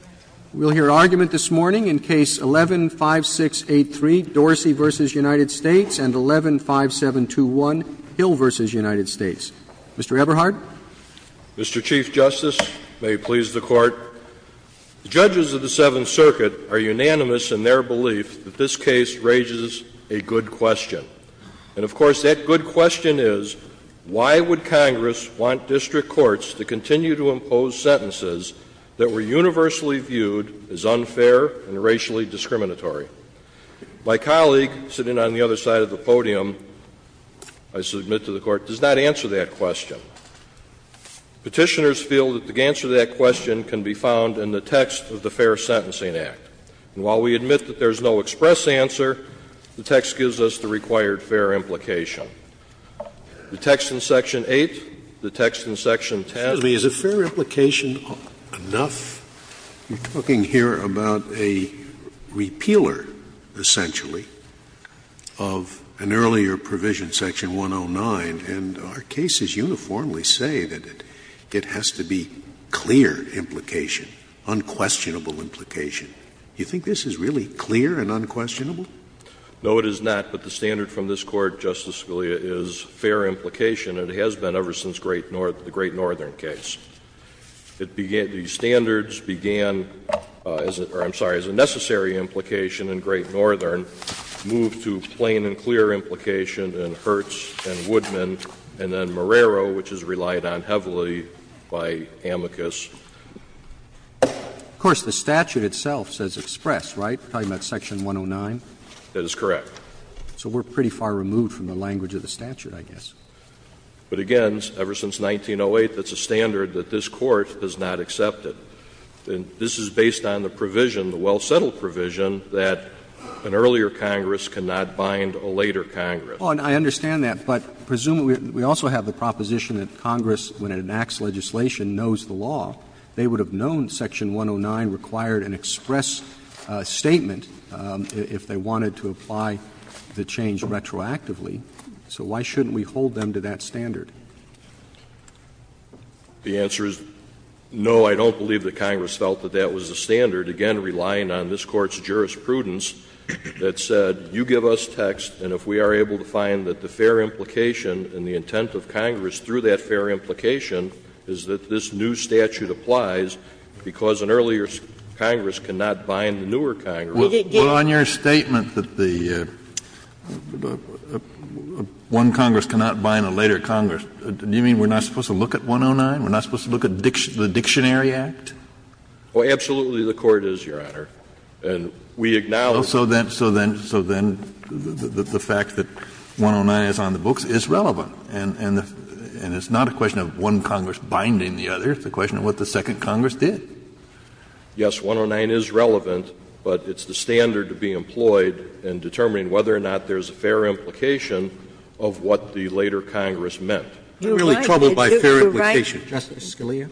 and 115721 Hill v. United States. Mr. Eberhardt. Mr. Chief Justice, may it please the Court, the judges of the Seventh Circuit are unanimous in their belief that this case raises a good question. And, of course, that good question is, why would Congress want district courts to continue unfair and racially discriminatory? My colleague sitting on the other side of the podium, I submit to the Court, does not answer that question. Petitioners feel that the answer to that question can be found in the text of the Fair Sentencing Act. And while we admit that there is no express answer, the text gives us the required fair implication. The text in Section 8, the text in Section 10. Scalia, is it fair implication enough? You're talking here about a repealer, essentially, of an earlier provision, Section 109. And our cases uniformly say that it has to be clear implication, unquestionable implication. Do you think this is really clear and unquestionable? No, it is not. But the standard from this Court, Justice Scalia, is fair implication. And it has been ever since the Great Northern case. The standards began, or I'm sorry, as a necessary implication in Great Northern, moved to plain and clear implication in Hertz and Woodman, and then Marrero, which is relied on heavily by Amicus. Of course, the statute itself says express, right? We're talking about Section 109? That is correct. But again, ever since 1908, that's a standard that this Court has not accepted. And this is based on the provision, the well-settled provision, that an earlier Congress cannot bind a later Congress. Oh, and I understand that. But presumably, we also have the proposition that Congress, when it enacts legislation, knows the law. They would have known Section 109 required an express statement if they wanted to apply the change retroactively. So why shouldn't we hold them to that standard? The answer is, no, I don't believe that Congress felt that that was the standard. Again, relying on this Court's jurisprudence that said, you give us text, and if we are able to find that the fair implication and the intent of Congress through that fair implication is that this new statute applies, because an earlier Congress cannot bind the newer Congress. Well, on your statement that the one Congress cannot bind a later Congress, do you mean we're not supposed to look at 109? We're not supposed to look at the Dictionary Act? Oh, absolutely the Court is, Your Honor. And we acknowledge that. So then the fact that 109 is on the books is relevant. And it's not a question of one Congress binding the other. It's a question of what the second Congress did. Yes, 109 is relevant, but it's the standard to be employed in determining whether or not there's a fair implication of what the later Congress meant. Scalia,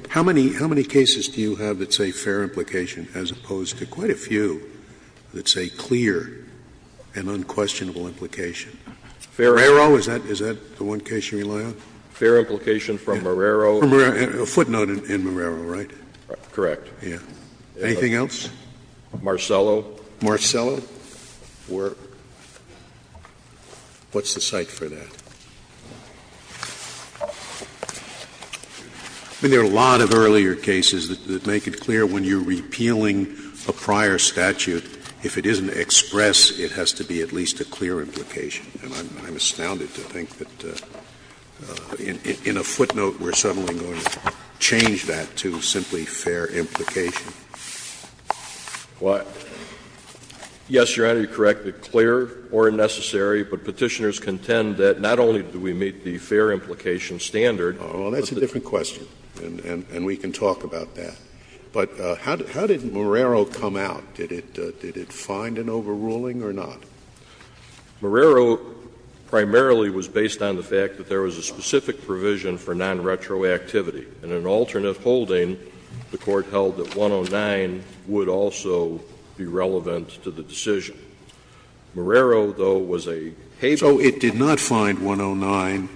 how many cases do you have that say fair implication as opposed to quite a few that say clear and unquestionable implication? Marrero, is that the one case you rely on? Fair implication from Marrero. A footnote in Marrero, right? Correct. Anything else? Marcello. Marcello? What's the cite for that? I mean, there are a lot of earlier cases that make it clear when you're repealing a prior statute, if it isn't expressed, it has to be at least a clear implication. And I'm astounded to think that in a footnote we're suddenly going to change that to simply fair implication. Why? Yes, Your Honor, you're correct. It's clear or unnecessary, but Petitioners contend that not only do we meet the fair implication standard. Well, that's a different question, and we can talk about that. But how did Marrero come out? Did it find an overruling or not? Marrero primarily was based on the fact that there was a specific provision for non-retroactivity. And in an alternate holding, the Court held that 109 would also be relevant to the decision. Marrero, though, was a haven. So it did not find 109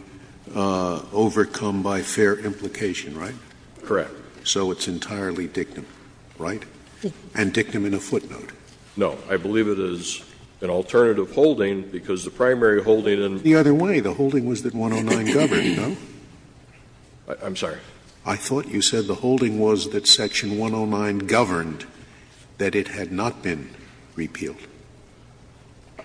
overcome by fair implication, right? Correct. So it's entirely dictum, right? And dictum in a footnote. No. I believe it is an alternative holding because the primary holding in the other way, the holding was that 109 governed, no? I'm sorry. I thought you said the holding was that section 109 governed, that it had not been repealed.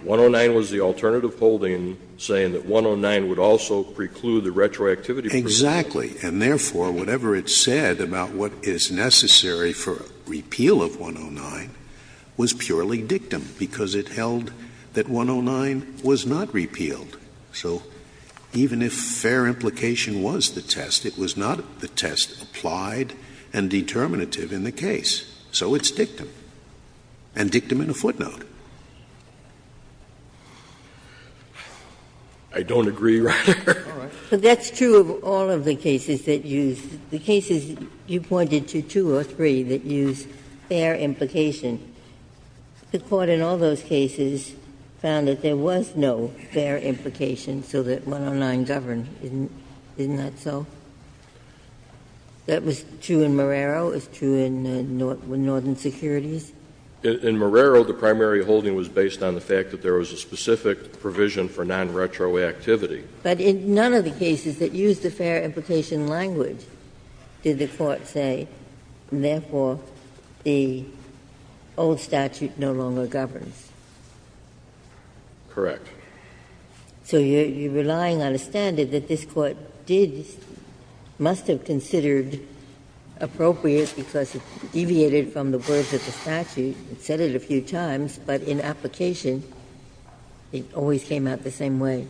109 was the alternative holding, saying that 109 would also preclude the retroactivity provision. Exactly. And therefore, whatever it said about what is necessary for repeal of 109 was purely dictum, because it held that 109 was not repealed. So even if fair implication was the test, it was not the test applied and determinative in the case. So it's dictum, and dictum in a footnote. I don't agree, Your Honor. But that's true of all of the cases that use the cases you pointed to, two or three that use fair implication. The Court in all those cases found that there was no fair implication, so that 109 governed, didn't that so? That was true in Marrero, it was true in Northern Securities? In Marrero, the primary holding was based on the fact that there was a specific provision for non-retroactivity. But in none of the cases that use the fair implication language did the Court say. And therefore, the old statute no longer governs. Correct. So you're relying on a standard that this Court did, must have considered appropriate because it deviated from the words of the statute, said it a few times, but in application, it always came out the same way.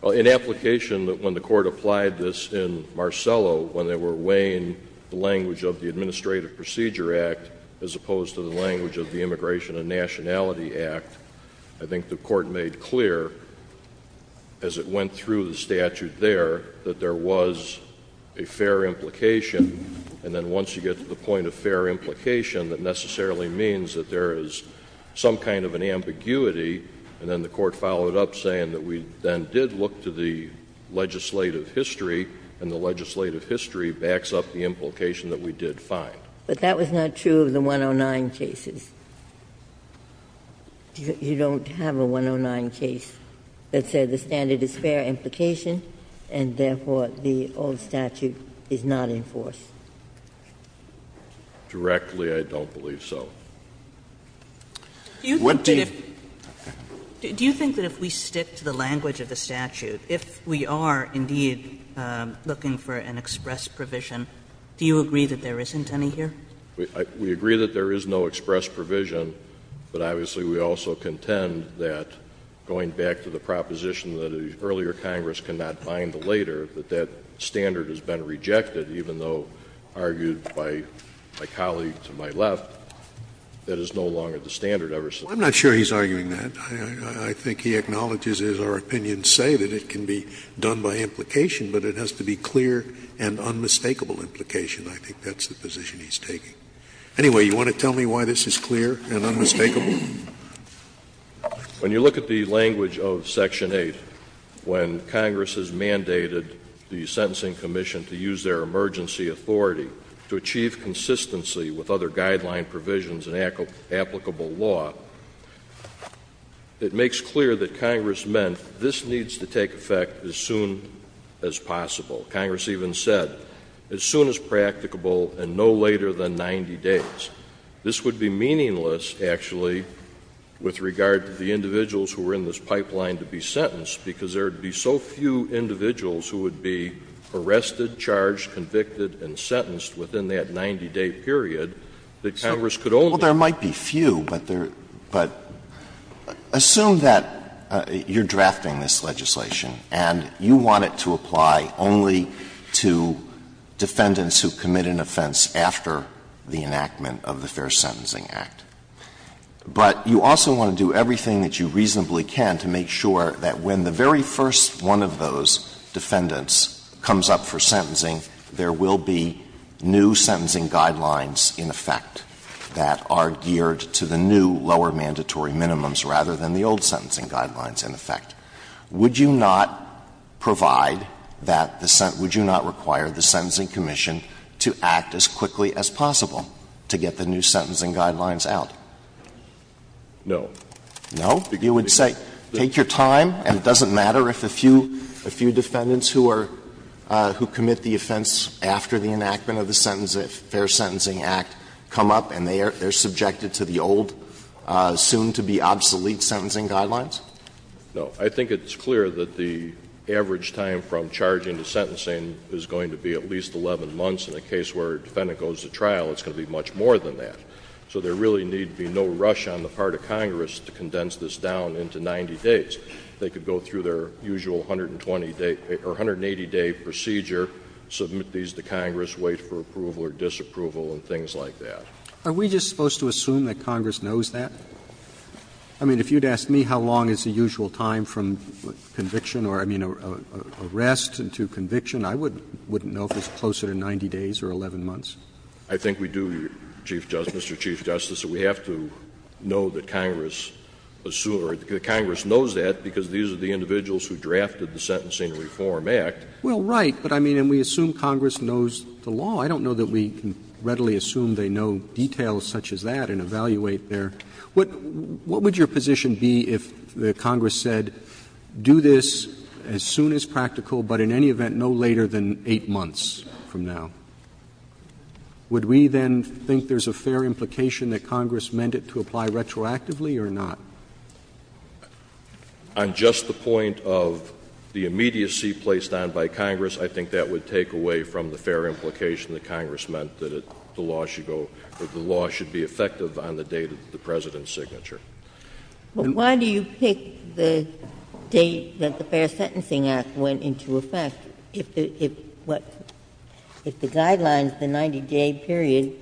Well, in application, when the Court applied this in Marcello, when they were weighing the language of the Administrative Procedure Act as opposed to the language of the Immigration and Nationality Act, I think the Court made clear, as it went through the statute there, that there was a fair implication. And then once you get to the point of fair implication, that necessarily means that there is some kind of an ambiguity. And then the Court followed up saying that we then did look to the legislative history, and the legislative history backs up the implication that we did find. But that was not true of the 109 cases. You don't have a 109 case that said the standard is fair implication, and therefore, the old statute is not enforced. Directly, I don't believe so. Do you think that if we stick to the language of the statute, if we are, indeed, looking for an express provision, do you agree that there isn't any here? We agree that there is no express provision, but obviously, we also contend that, going back to the proposition that the earlier Congress cannot bind the later, that that standard has been rejected, even though argued by my colleague to my left, that is no longer the standard ever since. Well, I'm not sure he's arguing that. I think he acknowledges, as our opinions say, that it can be done by implication, but it has to be clear and unmistakable implication. I think that's the position he's taking. Anyway, you want to tell me why this is clear and unmistakable? When you look at the language of Section 8, when Congress has mandated the Sentencing Commission to use their emergency authority to achieve consistency with other guideline provisions and applicable law, it makes clear that Congress meant this needs to take effect as soon as possible. Congress even said, as soon as practicable and no later than 90 days. This would be meaningless, actually, with regard to the individuals who are in this pipeline to be sentenced, because there would be so few individuals who would be arrested, charged, convicted, and sentenced within that 90-day period that Congress could only do that. Well, there might be few, but there — but assume that you're drafting this legislation and you want it to apply only to defendants who commit an offense after the enactment of the Fair Sentencing Act. But you also want to do everything that you reasonably can to make sure that when the very first one of those defendants comes up for sentencing, there will be new sentencing guidelines in effect that are geared to the new lower mandatory minimums rather than the old sentencing guidelines in effect. Would you not provide that the — would you not require the Sentencing Commission to act as quickly as possible to get the new sentencing guidelines out? No. No? You would say take your time, and it doesn't matter if a few defendants who are — who commit the offense after the enactment of the Fair Sentencing Act come up and they are subjected to the old, soon-to-be-obsolete sentencing guidelines? No. I think it's clear that the average time from charging to sentencing is going to be at least 11 months. In the case where a defendant goes to trial, it's going to be much more than that. So there really need be no rush on the part of Congress to condense this down into 90 days. They could go through their usual 120-day — or 180-day procedure, submit these to Congress, wait for approval or disapproval, and things like that. Are we just supposed to assume that Congress knows that? I mean, if you'd ask me how long is the usual time from conviction or, I mean, arrest to conviction, I wouldn't know if it's closer to 90 days or 11 months. I think we do, Mr. Chief Justice, that we have to know that Congress assumes — or that Congress knows that because these are the individuals who drafted the Sentencing Reform Act. Well, right. But, I mean, and we assume Congress knows the law. I don't know that we can readily assume they know details such as that and evaluate their — what would your position be if the Congress said, do this as soon as practical, but in any event no later than 8 months from now? Would we then think there's a fair implication that Congress meant it to apply retroactively or not? On just the point of the immediacy placed on by Congress, I think that would take away from the fair implication that Congress meant that the law should go — that the law should be effective on the date of the President's signature. But why do you pick the date that the Fair Sentencing Act went into effect if the — if the guidelines, the 90-day period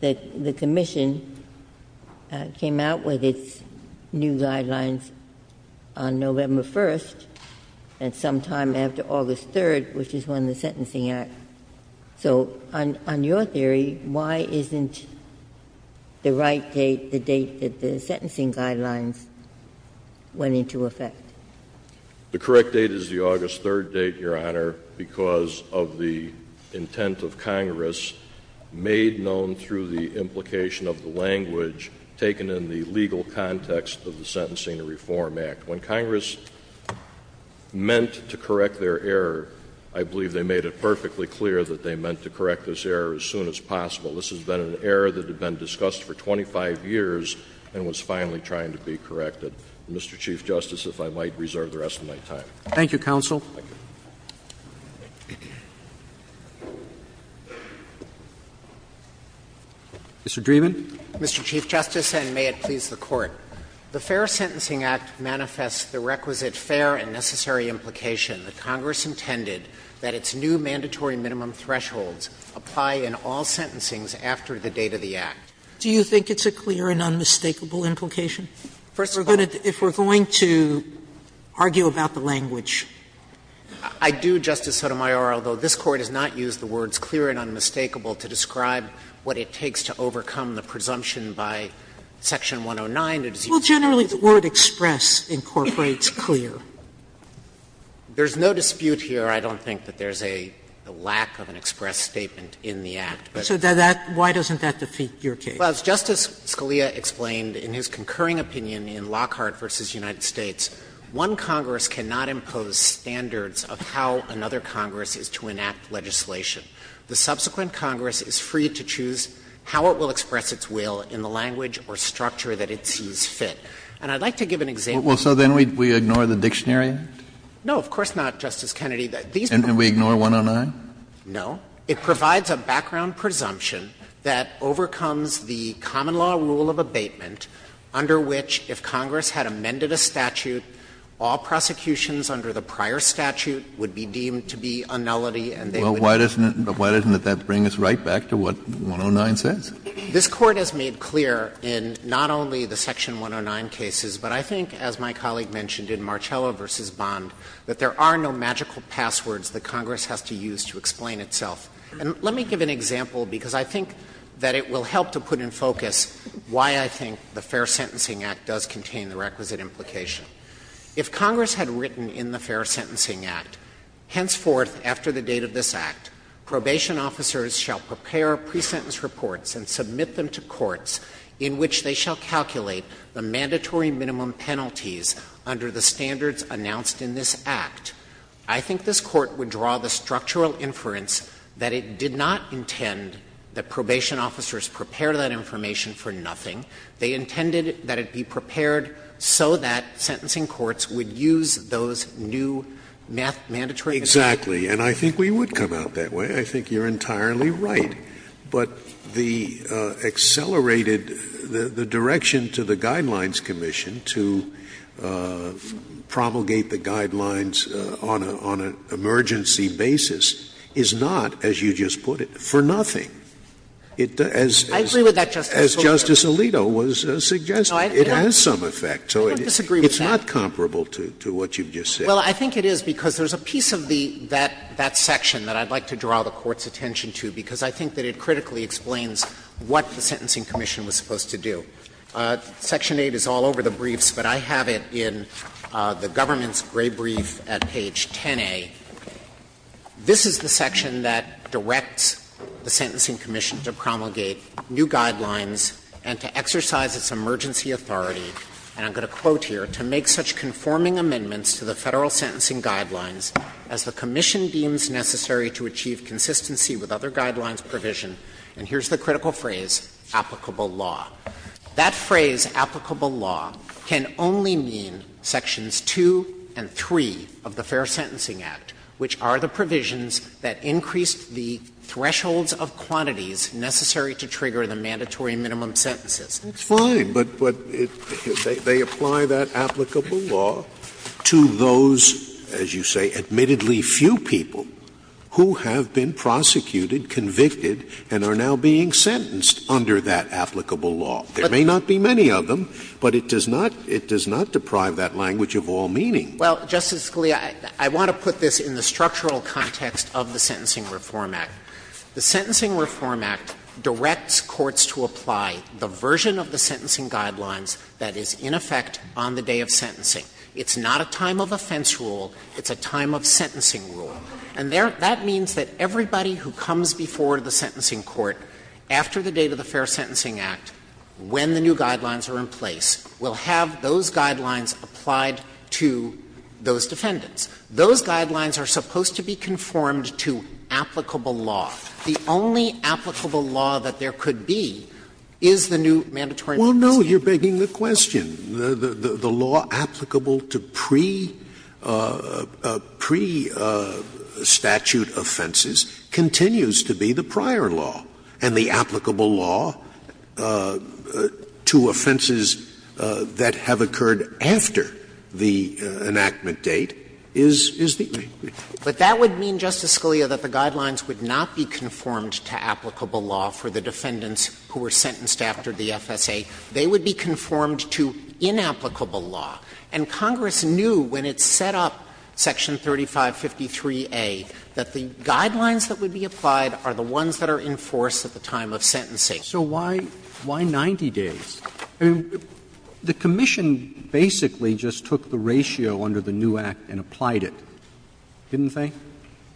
that the Commission came out with its new guidelines on November 1st and sometime after August 3rd, which is when the Sentencing Act — so on your theory, why isn't the right date the date that the sentencing guidelines went into effect? The correct date is the August 3rd date, Your Honor, because of the intent of Congress made known through the implication of the language taken in the legal context of the Sentencing Reform Act. When Congress meant to correct their error, I believe they made it perfectly clear that they meant to correct this error as soon as possible. This has been an error that had been discussed for 25 years and was finally trying to be corrected. Mr. Chief Justice, if I might, reserve the rest of my time. Roberts. Thank you, counsel. Thank you. Mr. Dreeben. Mr. Chief Justice, and may it please the Court. The Fair Sentencing Act manifests the requisite fair and necessary implication that Congress intended that its new mandatory minimum thresholds apply in all sentencings after the date of the Act. Do you think it's a clear and unmistakable implication? If we're going to argue about the language. I do, Justice Sotomayor, although this Court has not used the words clear and unmistakable to describe what it takes to overcome the presumption by Section 109. Well, generally the word express incorporates clear. There's no dispute here. I don't think that there's a lack of an express statement in the Act. So why doesn't that defeat your case? Well, as Justice Scalia explained in his concurring opinion in Lockhart v. United States, one Congress cannot impose standards of how another Congress is to enact legislation. The subsequent Congress is free to choose how it will express its will in the language or structure that it sees fit. And I'd like to give an example. Well, so then we ignore the dictionary? No, of course not, Justice Kennedy. And we ignore 109? No. It provides a background presumption that overcomes the common law rule of abatement under which, if Congress had amended a statute, all prosecutions under the prior statute would be deemed to be a nullity and they would not be. Well, why doesn't that bring us right back to what 109 says? This Court has made clear in not only the Section 109 cases, but I think, as my colleague mentioned in Marcello v. Bond, that there are no magical passwords that Congress has to use to explain itself. And let me give an example, because I think that it will help to put in focus why I think the Fair Sentencing Act does contain the requisite implication. If Congress had written in the Fair Sentencing Act, henceforth, after the date of this Act, probation officers shall prepare pre-sentence reports and submit them to courts in which they shall calculate the mandatory minimum penalties under the standards announced in this Act. I think this Court would draw the structural inference that it did not intend that probation officers prepare that information for nothing. They intended that it be prepared so that sentencing courts would use those new mandatory minimums. Exactly. And I think we would come out that way. I think you're entirely right. But the accelerated the direction to the Guidelines Commission to promulgate the Guidelines on an emergency basis is not, as you just put it, for nothing. As Justice Alito was suggesting, it has some effect. I don't disagree with that. It's not comparable to what you've just said. Well, I think it is, because there's a piece of that section that I'd like to draw the Court's attention to, because I think that it critically explains what the Sentencing Commission was supposed to do. Section 8 is all over the briefs, but I have it in the government's gray brief at page 10a. This is the section that directs the Sentencing Commission to promulgate new guidelines and to exercise its emergency authority, and I'm going to quote here, to make such conforming amendments to the Federal sentencing guidelines as the commission deems necessary to achieve consistency with other guidelines provision. And here's the critical phrase, applicable law. That phrase, applicable law, can only mean sections 2 and 3 of the Fair Sentencing Act, which are the provisions that increase the thresholds of quantities necessary to trigger the mandatory minimum sentences. That's fine, but they apply that applicable law to those, as you say, admittedly few people who have been prosecuted, convicted, and are now being sentenced under that applicable law. There may not be many of them, but it does not – it does not deprive that language of all meaning. Well, Justice Scalia, I want to put this in the structural context of the Sentencing Reform Act. The Sentencing Reform Act directs courts to apply the version of the sentencing guidelines that is in effect on the day of sentencing. It's not a time of offense rule. It's a time of sentencing rule. And there – that means that everybody who comes before the sentencing court after the date of the Fair Sentencing Act, when the new guidelines are in place, will have those guidelines applied to those defendants. Those guidelines are supposed to be conformed to applicable law. The only applicable law that there could be is the new mandatory minimum sentence. Well, no, you're begging the question. The law applicable to pre-statute offenses continues to be the prior law. And the applicable law to offenses that have occurred after the enactment date is the same. But that would mean, Justice Scalia, that the guidelines would not be conformed to applicable law for the defendants who were sentenced after the FSA. They would be conformed to inapplicable law. And Congress knew when it set up Section 3553A that the guidelines that would be applied are the ones that are enforced at the time of sentencing. Roberts. So why 90 days? I mean, the commission basically just took the ratio under the new act and applied it, didn't they,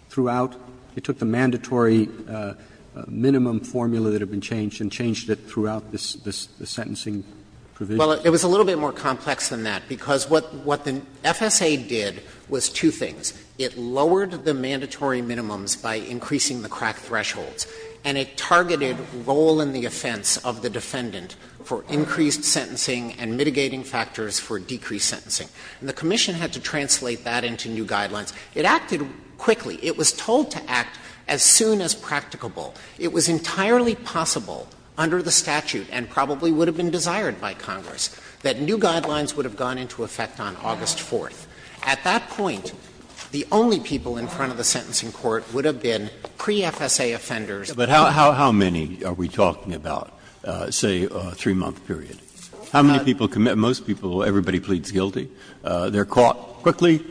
throughout? It took the mandatory minimum formula that had been changed and changed it throughout the sentencing provision? Well, it was a little bit more complex than that, because what the FSA did was two things. It lowered the mandatory minimums by increasing the crack thresholds, and it targeted role in the offense of the defendant for increased sentencing and mitigating factors for decreased sentencing. And the commission had to translate that into new guidelines. It acted quickly. It was told to act as soon as practicable. It was entirely possible under the statute, and probably would have been desired by Congress, that new guidelines would have gone into effect on August 4th. At that point, the only people in front of the sentencing court would have been pre-FSA offenders. But how many are we talking about, say, a 3-month period? How many people commit? Most people, everybody pleads guilty. They're caught quickly.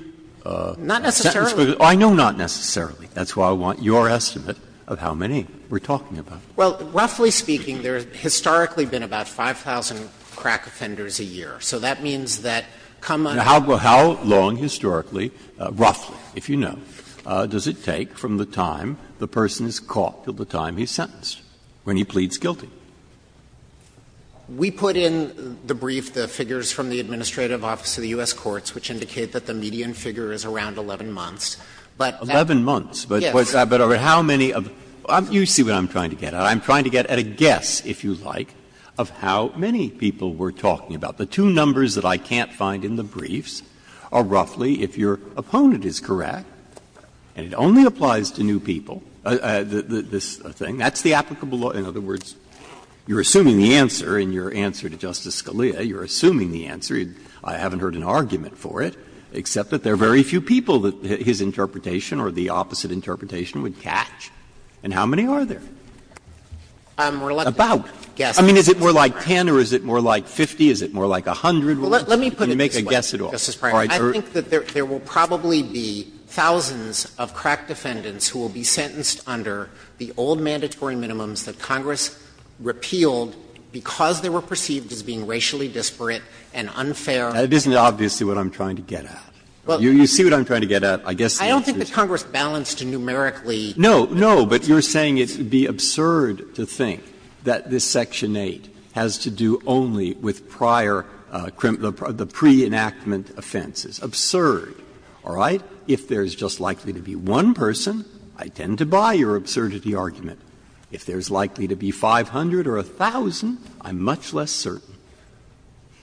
Not necessarily. I know not necessarily. That's why I want your estimate of how many we're talking about. Well, roughly speaking, there have historically been about 5,000 crack offenders a year. So that means that, come on. Now, how long historically, roughly, if you know, does it take from the time the person is caught till the time he's sentenced, when he pleads guilty? We put in the brief the figures from the administrative office of the U.S. courts, which indicate that the median figure is around 11 months. But that's the case. Breyer. 11 months. Yes. But over how many of the ---- you see what I'm trying to get at. I'm trying to get at a guess, if you like, of how many people we're talking about. The two numbers that I can't find in the briefs are roughly, if your opponent is correct, and it only applies to new people, this thing, that's the applicable law. You're assuming the answer. I haven't heard an argument for it, except that there are very few people that his interpretation or the opposite interpretation would catch. And how many are there? About. I mean, is it more like 10 or is it more like 50? Is it more like 100? Can you make a guess at all? All right. I think that there will probably be thousands of crack defendants who will be sentenced under the old mandatory minimums that Congress repealed because they were perceived as being racially disparate and unfair. It isn't obviously what I'm trying to get at. You see what I'm trying to get at. I guess the answer is yes. I don't think that Congress balanced numerically. No. No. But you're saying it would be absurd to think that this Section 8 has to do only with prior ---- the pre-enactment offenses. Absurd. All right? If there's just likely to be one person, I tend to buy your absurdity argument. If there's likely to be 500 or 1,000, I'm much less certain.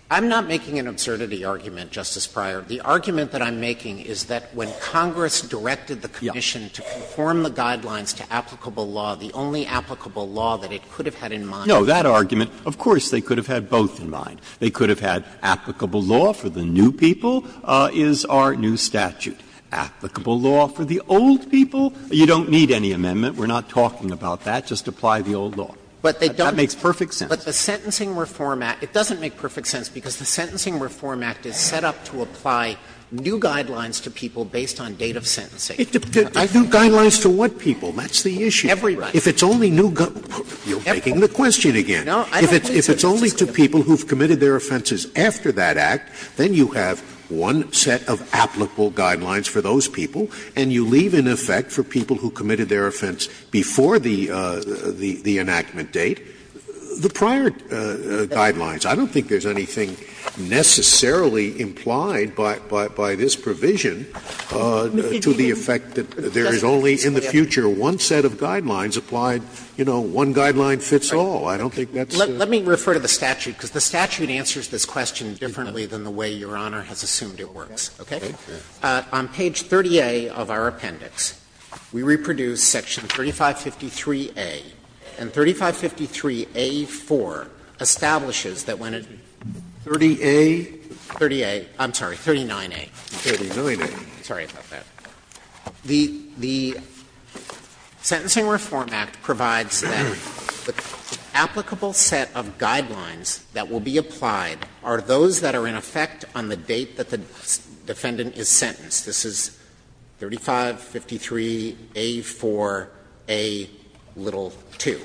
I'm not making an absurdity argument, Justice Breyer. The argument that I'm making is that when Congress directed the Commission to conform the guidelines to applicable law, the only applicable law that it could have had in mind ---- No. That argument, of course, they could have had both in mind. They could have had applicable law for the new people is our new statute. Applicable law for the old people, you don't need any amendment. We're not talking about that. Just apply the old law. That makes perfect sense. But the Sentencing Reform Act ---- it doesn't make perfect sense because the Sentencing Reform Act is set up to apply new guidelines to people based on date of sentencing. New guidelines to what people? That's the issue. Everybody. If it's only new ---- you're making the question again. If it's only to people who've committed their offenses after that Act, then you have one set of applicable guidelines for those people, and you leave in effect for people who committed their offense before the enactment date, the prior guidelines. I don't think there's anything necessarily implied by this provision to the effect that there is only in the future one set of guidelines applied, you know, one guideline fits all. I don't think that's the ---- Let me refer to the statute, because the statute answers this question differently than the way Your Honor has assumed it works, okay? On page 30A of our appendix. We reproduce section 3553A, and 3553A4 establishes that when a ---- 30A? 30A. I'm sorry, 39A. 39A. Sorry about that. The Sentencing Reform Act provides that the applicable set of guidelines that will be applied are those that are in effect on the date that the defendant is sentenced. This is 3553A4A2.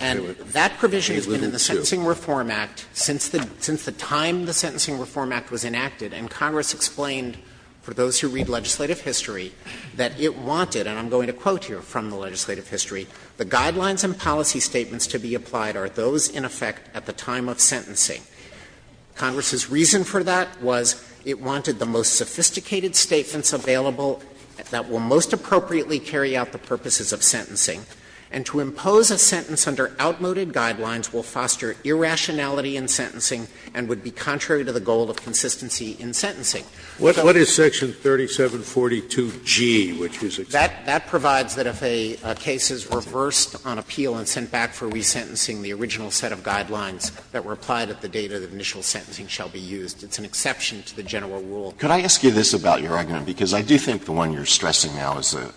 And that provision has been in the Sentencing Reform Act since the time the Sentencing Reform Act was enacted, and Congress explained for those who read legislative history that it wanted, and I'm going to quote here from the legislative history, the guidelines and policy statements to be applied are those in effect at the time of sentencing. Congress's reason for that was it wanted the most sophisticated statements available that will most appropriately carry out the purposes of sentencing, and to impose a sentence under outmoded guidelines will foster irrationality in sentencing and would be contrary to the goal of consistency in sentencing. Scalia. What is section 3742G, which is exactly that? That provides that if a case is reversed on appeal and sent back for resentencing the original set of guidelines that were applied at the date of the initial sentencing shall be used. It's an exception to the general rule. Alito, could I ask you this about your argument? Because I do think the one you're stressing now is a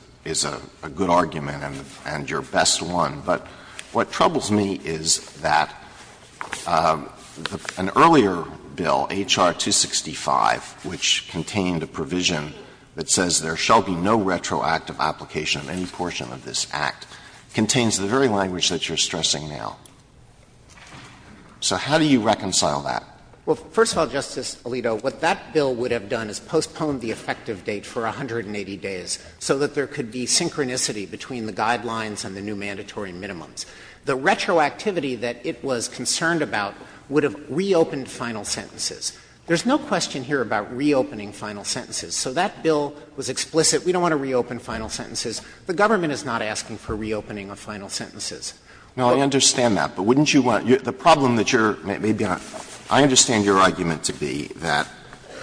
good argument and your best one. But what troubles me is that an earlier bill, H.R. 265, which contained a provision that says there shall be no retroactive application of any portion of this Act, contains the very language that you're stressing now. So how do you reconcile that? Well, first of all, Justice Alito, what that bill would have done is postponed the effective date for 180 days so that there could be synchronicity between the guidelines and the new mandatory minimums. The retroactivity that it was concerned about would have reopened final sentences. There's no question here about reopening final sentences. So that bill was explicit. We don't want to reopen final sentences. The government is not asking for reopening of final sentences. Now, I understand that. But wouldn't you want to – the problem that you're – I understand your argument to be that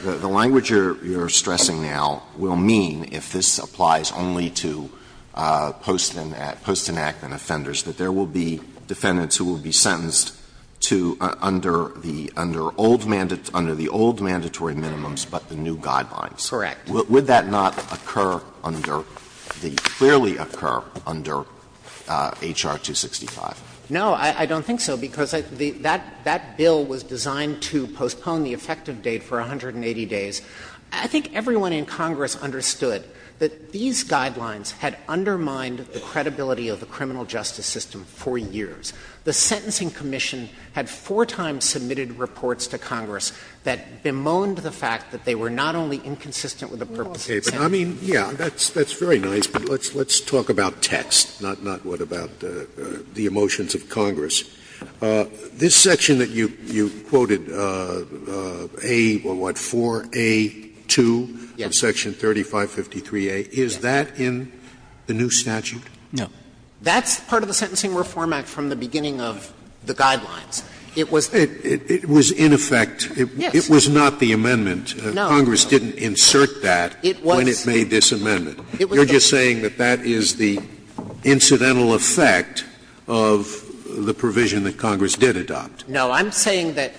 the language you're stressing now will mean, if this applies only to post-enactment offenders, that there will be defendants who will be sentenced to under the old mandatory minimums but the new guidelines. Correct. Would that not occur under – clearly occur under H.R. 265? No, I don't think so, because that bill was designed to postpone the effective date for 180 days. I think everyone in Congress understood that these guidelines had undermined the credibility of the criminal justice system for years. The Sentencing Commission had four times submitted reports to Congress that bemoaned the fact that they were not only inconsistent with the purpose of the sentence. I mean, yes, that's very nice, but let's talk about text, not what about the emotions of Congress. This section that you quoted, A, well, what, 4A, 2, section 3553A, is that in the new statute? No. That's part of the Sentencing Reform Act from the beginning of the guidelines. It was – It was, in effect, it was not the amendment. Congress didn't insert that when it made this amendment. You're just saying that that is the incidental effect of the provision that Congress did adopt. No. I'm saying that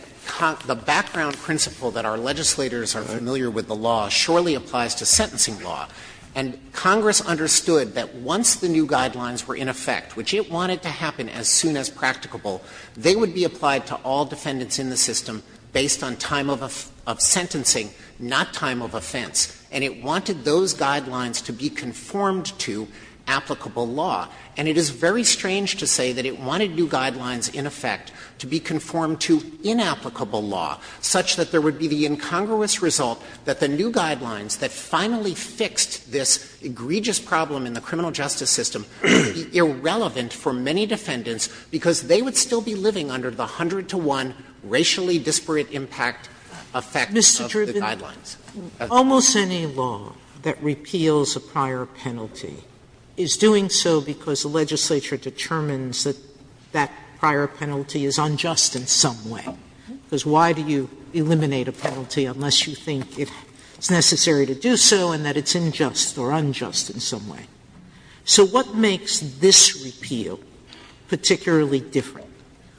the background principle that our legislators are familiar with the law surely applies to sentencing law. And Congress understood that once the new guidelines were in effect, which it wanted to happen as soon as practicable, they would be applied to all defendants in the system based on time of sentencing, not time of offense. And it wanted those guidelines to be conformed to applicable law. And it is very strange to say that it wanted new guidelines, in effect, to be conformed to inapplicable law, such that there would be the incongruous result that the new guidelines that finally fixed this egregious problem in the criminal justice system would be irrelevant for many defendants because they would still be living under the hundred-to-one racially disparate impact effect of the guidelines. Sotomayor, Mr. Dreeben, almost any law that repeals a prior penalty is doing so because the legislature determines that that prior penalty is unjust in some way, because why do you eliminate a penalty unless you think it's necessary to do so and that it's unjust or unjust in some way? So what makes this repeal particularly different,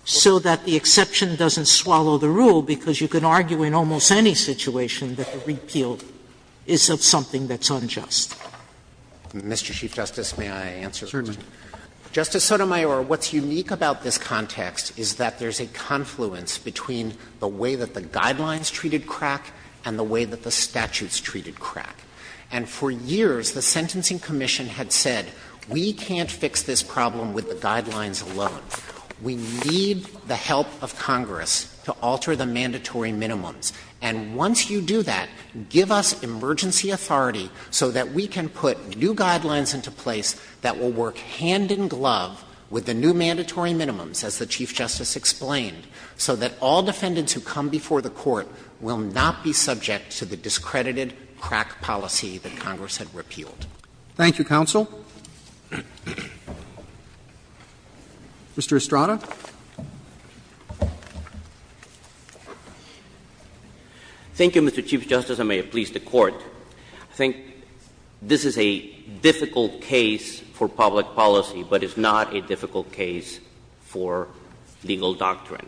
so that the exception doesn't swallow the rule because you can argue in almost any situation that the repeal is of something that's unjust? Dreeben, Mr. Chief Justice, may I answer the question? Justice Sotomayor, what's unique about this context is that there's a confluence between the way that the guidelines treated crack and the way that the statutes treated crack. And for years, the Sentencing Commission had said, we can't fix this problem with the guidelines alone. We need the help of Congress to alter the mandatory minimums. And once you do that, give us emergency authority so that we can put new guidelines into place that will work hand in glove with the new mandatory minimums, as the Chief Justice explained, so that all defendants who come before the Court will not be subject to the discredited crack policy that Congress had repealed. Thank you, counsel. Mr. Estrada. Thank you, Mr. Chief Justice, and may it please the Court. I think this is a difficult case for public policy, but it's not a difficult case for legal doctrine.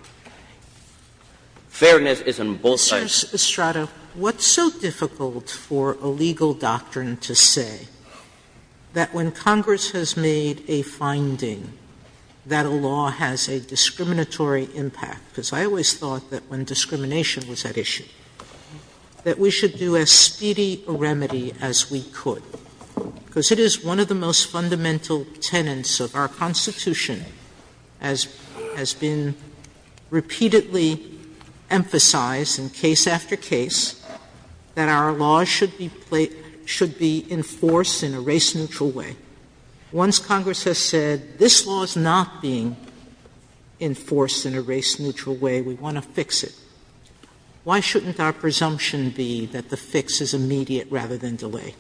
Fairness is on both sides. Justice Sotomayor, what's so difficult for a legal doctrine to say that when Congress has made a finding that a law has a discriminatory impact, because I always thought that when discrimination was at issue, that we should do as speedy a remedy as we could, because it is one of the most fundamental tenets of our Constitution, as has been repeatedly emphasized in case after case, that our laws should be enforced in a race neutral way. Once Congress has said, this law is not being enforced in a race neutral way, we want to fix it, why shouldn't our presumption be that the fix is immediate rather than delayed?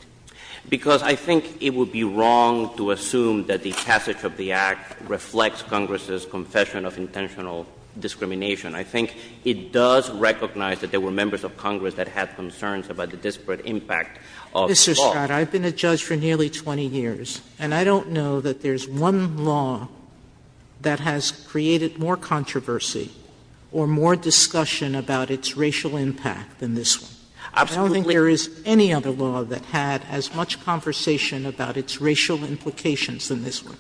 Because I think it would be wrong to assume that the passage of the Act reflects Congress's confession of intentional discrimination. I think it does recognize that there were members of Congress that had concerns about the disparate impact of the law. Mr. Estrada, I've been a judge for nearly 20 years, and I don't know that there's one law that has created more controversy or more discussion about its racial impact than this one. Absolutely. I don't think there is any other law that had as much conversation about its racial implications than this one.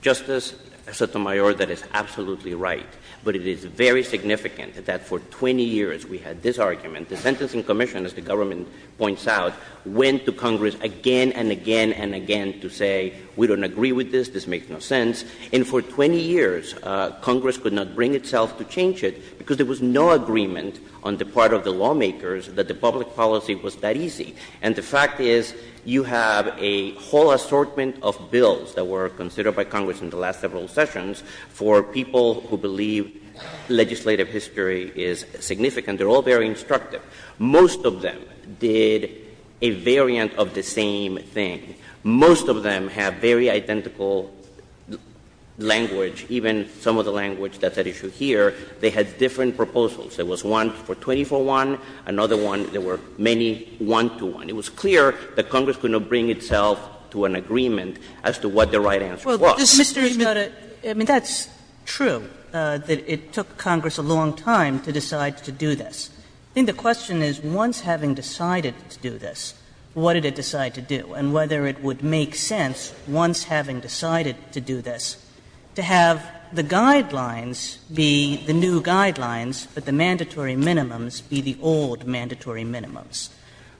Justice Sotomayor, that is absolutely right. But it is very significant that for 20 years we had this argument. The Sentencing Commission, as the government points out, went to Congress again and again and again to say, we don't agree with this, this makes no sense. And for 20 years, Congress could not bring itself to change it because there was no agreement on the part of the lawmakers that the public policy was that easy. And the fact is you have a whole assortment of bills that were considered by Congress in the last several sessions for people who believe legislative history is significant. They're all very instructive. Most of them did a variant of the same thing. Most of them have very identical language, even some of the language that's at issue here. They had different proposals. There was one for 24-1. Another one, there were many one-to-one. It was clear that Congress could not bring itself to an agreement as to what the right answer was. Kagan. Well, Mr. Emanuel, I mean, that's true that it took Congress a long time to decide to do this. I think the question is, once having decided to do this, what did it decide to do? And whether it would make sense, once having decided to do this, to have the guidelines be the new guidelines, but the mandatory minimums be the old mandatory minimums.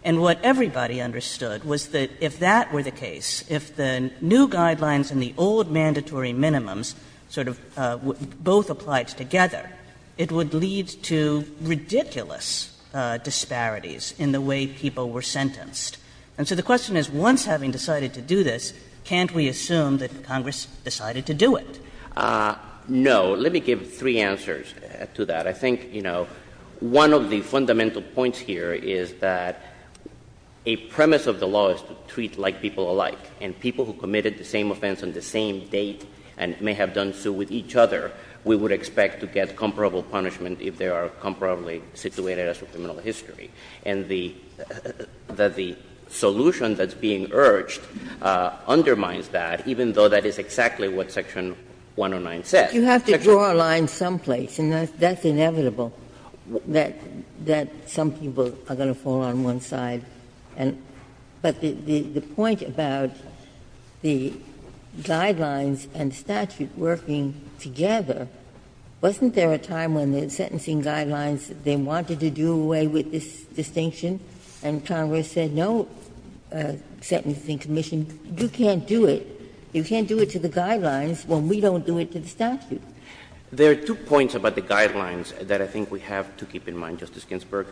And what everybody understood was that if that were the case, if the new guidelines and the old mandatory minimums sort of both applied together, it would lead to ridiculous disparities in the way people were sentenced. And so the question is, once having decided to do this, can't we assume that Congress decided to do it? No. Let me give three answers to that. I think, you know, one of the fundamental points here is that a premise of the law is to treat like people alike. And people who committed the same offense on the same date and may have done so with each other, we would expect to get comparable punishment if they are comparably situated as for criminal history. And the solution that's being urged undermines that, even though that is exactly what Section 109 says. Ginsburg. But you have to draw a line someplace, and that's inevitable, that some people are going to fall on one side. But the point about the guidelines and statute working together, wasn't there a time when the sentencing guidelines, they wanted to do away with this distinction and Congress said, no sentencing commission, you can't do it, you can't do it to the statute? There are two points about the guidelines that I think we have to keep in mind, Justice Ginsburg.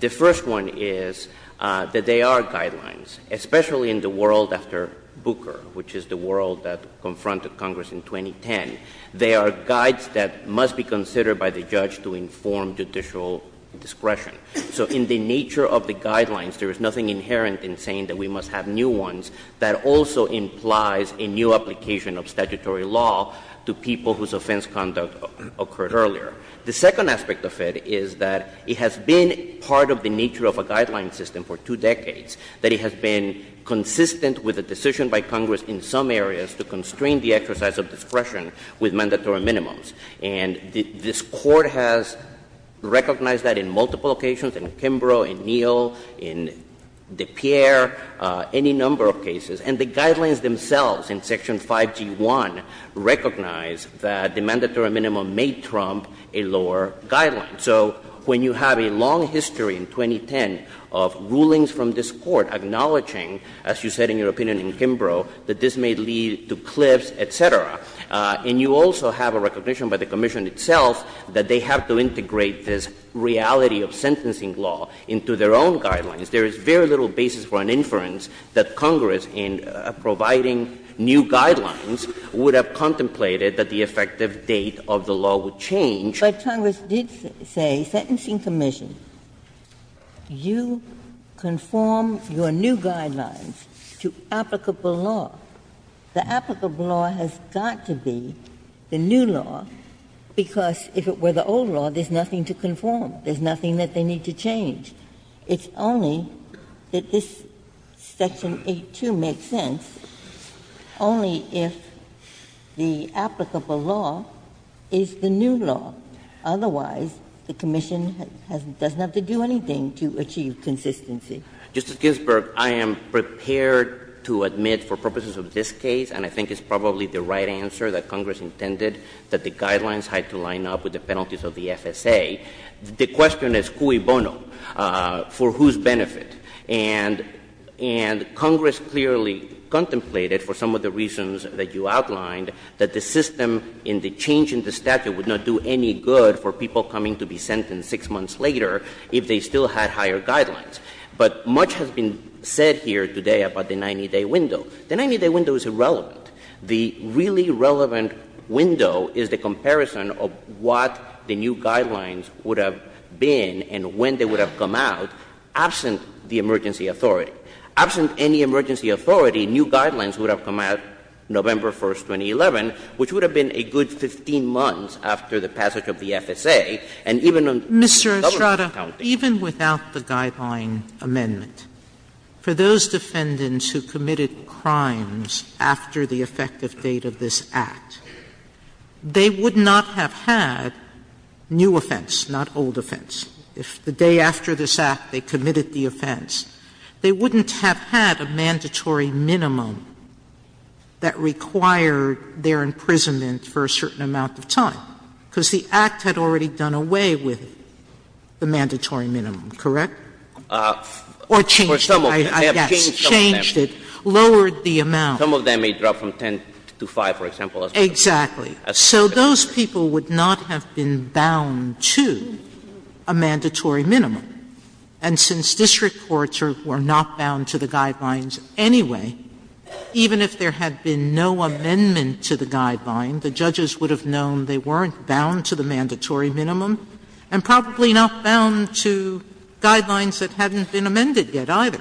The first one is that they are guidelines, especially in the world after Booker, which is the world that confronted Congress in 2010. They are guides that must be considered by the judge to inform judicial discretion. So in the nature of the guidelines, there is nothing inherent in saying that we must have new ones that also implies a new application of statutory law to people whose offense conduct occurred earlier. The second aspect of it is that it has been part of the nature of a guideline system for two decades, that it has been consistent with a decision by Congress in some areas to constrain the exercise of discretion with mandatory minimums. And this Court has recognized that in multiple occasions, in Kimbrough, in Neal, in DePierre, any number of cases, and the guidelines themselves in Section 5G1 recognize that the mandatory minimum may trump a lower guideline. So when you have a long history in 2010 of rulings from this Court acknowledging, as you said in your opinion in Kimbrough, that this may lead to cliffs, et cetera, and you also have a recognition by the commission itself that they have to integrate this reality of sentencing law into their own guidelines, there is very little basis for an inference that Congress, in providing new guidelines, would have contemplated that the effective date of the law would change. But Congress did say, Sentencing Commission, you conform your new guidelines to applicable law. The applicable law has got to be the new law, because if it were the old law, there's nothing to conform, there's nothing that they need to change. It's only that this Section 8-2 makes sense only if the applicable law is the new law. Otherwise, the commission doesn't have to do anything to achieve consistency. Mr. Ginsburg, I am prepared to admit, for purposes of this case, and I think it's probably the right answer that Congress intended, that the guidelines had to line up with the penalties of the FSA. The question is cui bono? For whose benefit? And Congress clearly contemplated, for some of the reasons that you outlined, that the system and the change in the statute would not do any good for people coming to be sentenced six months later if they still had higher guidelines. But much has been said here today about the 90-day window. The 90-day window is irrelevant. The really relevant window is the comparison of what the new guidelines would have been and when they would have come out, absent the emergency authority. Absent any emergency authority, new guidelines would have come out November 1, 2011, which would have been a good 15 months after the passage of the FSA, and even on government accounting. Mr. Estrada, even without the guideline amendment, for those defendants who committed crimes after the effective date of this Act, they would not have had new offense, not old offense. If the day after this Act they committed the offense, they wouldn't have had a mandatory minimum that required their imprisonment for a certain amount of time, because the Act had already done away with the mandatory minimum, correct? Or changed it, I guess. Changed it, lowered the amount. Some of them may drop from 10 to 5, for example. Exactly. So those people would not have been bound to a mandatory minimum. And since district courts were not bound to the guidelines anyway, even if there had been no amendment to the guideline, the judges would have known they weren't bound to the mandatory minimum and probably not bound to guidelines that hadn't been amended yet either.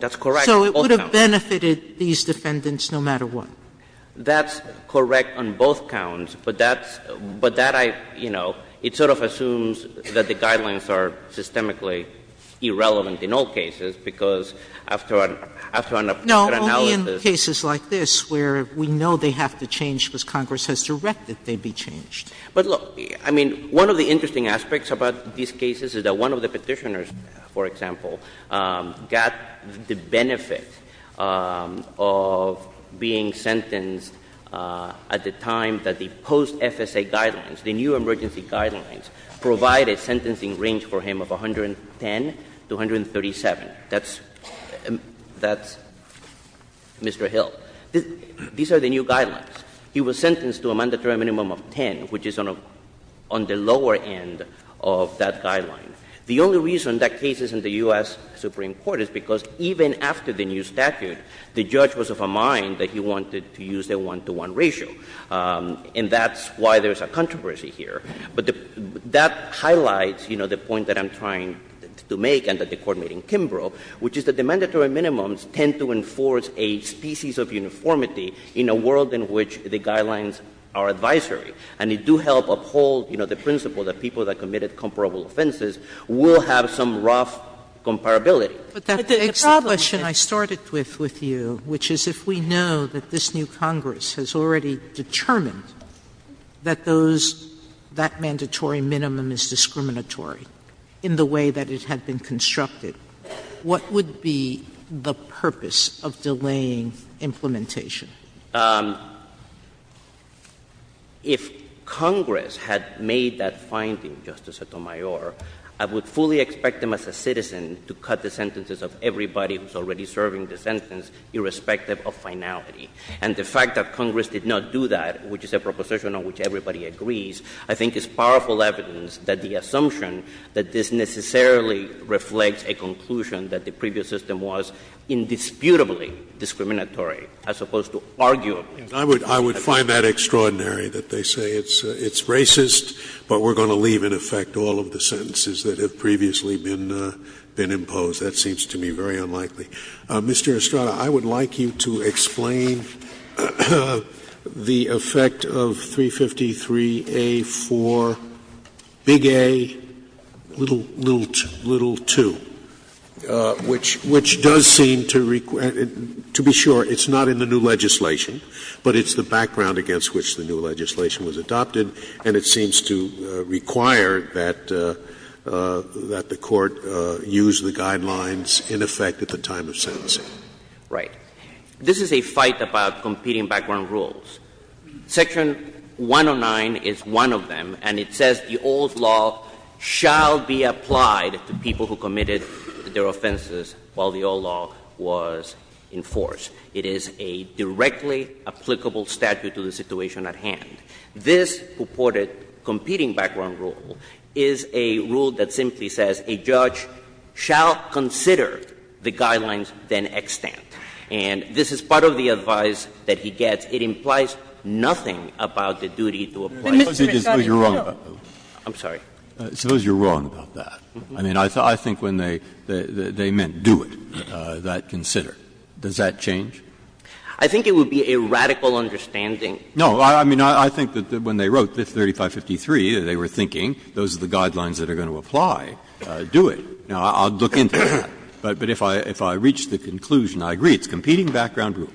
That's correct. So it would have benefited these defendants no matter what. That's correct on both counts, but that's, but that I, you know, it sort of assumes that the guidelines are systemically irrelevant in all cases, because after an, after an analysis. No, only in cases like this where we know they have to change because Congress has directed they be changed. But look, I mean, one of the interesting aspects about these cases is that one of the people got the benefit of being sentenced at the time that the post-FSA guidelines, the new emergency guidelines, provided sentencing range for him of 110 to 137. That's, that's Mr. Hill. These are the new guidelines. He was sentenced to a mandatory minimum of 10, which is on a, on the lower end of that guideline. The only reason that case is in the U.S. Supreme Court is because even after the new statute, the judge was of a mind that he wanted to use the one-to-one ratio. And that's why there's a controversy here. But that highlights, you know, the point that I'm trying to make and that the Court made in Kimbrough, which is that the mandatory minimums tend to enforce a species of uniformity in a world in which the guidelines are advisory. And it do help uphold, you know, the principle that people that committed comparable offenses will have some rough comparability. Sotomayor But that begs the question I started with, with you, which is if we know that this new Congress has already determined that those, that mandatory minimum is discriminatory in the way that it had been constructed, what would be the purpose of delaying implementation? If Congress had made that finding, Justice Sotomayor, I would fully expect them as a citizen to cut the sentences of everybody who's already serving the sentence irrespective of finality. And the fact that Congress did not do that, which is a proposition on which everybody agrees, I think is powerful evidence that the assumption that this necessarily reflects a conclusion that the previous system was indisputably discriminatory as opposed to arguably. Scalia I would find that extraordinary, that they say it's racist, but we're going to leave in effect all of the sentences that have previously been imposed. That seems to me very unlikely. Mr. Estrada, I would like you to explain the effect of 353A-4, big A, little 2, which does seem to require, to be sure, it's not in the new legislation, but it's the background against which the new legislation was adopted, and it seems to require that the Court use the guidelines in effect at the time of sentencing. Right. This is a fight about competing background rules. Section 109 is one of them, and it says the old law shall be applied to people who committed their offenses while the old law was in force. It is a directly applicable statute to the situation at hand. This purported competing background rule is a rule that simply says a judge shall consider the guidelines, then extant. And this is part of the advice that he gets. It implies nothing about the duty to apply it. Suppose you're wrong about that. I'm sorry. Suppose you're wrong about that. I mean, I think when they meant do it, that consider, does that change? I think it would be a radical understanding. No. I mean, I think that when they wrote 3553, they were thinking those are the guidelines that are going to apply, do it. Now, I'll look into that. But if I reach the conclusion, I agree, it's competing background rules.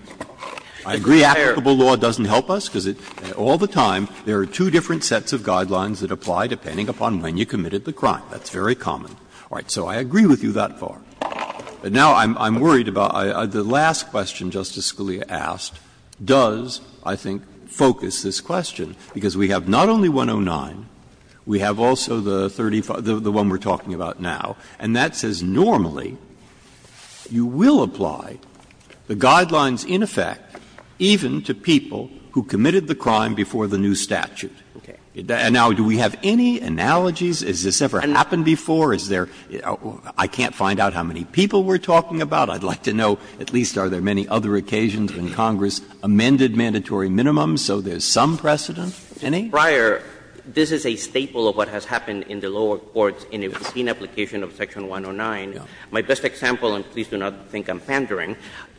I agree applicable law doesn't help us, because all the time there are two different sets of guidelines that apply depending upon when you committed the crime. That's very common. All right. So I agree with you that far. But now I'm worried about the last question Justice Scalia asked does, I think, focus this question, because we have not only 109, we have also the 35, the one we're talking about now, and that says normally you will apply the guidelines in effect even to people who committed the crime before the new statute. And now, do we have any analogies? Has this ever happened before? Is there — I can't find out how many people we're talking about. I'd like to know, at least, are there many other occasions when Congress amended mandatory minimums so there's some precedent? Any? Prior, this is a staple of what has happened in the lower courts in a routine application of Section 109. My best example, and please do not think I'm pandering,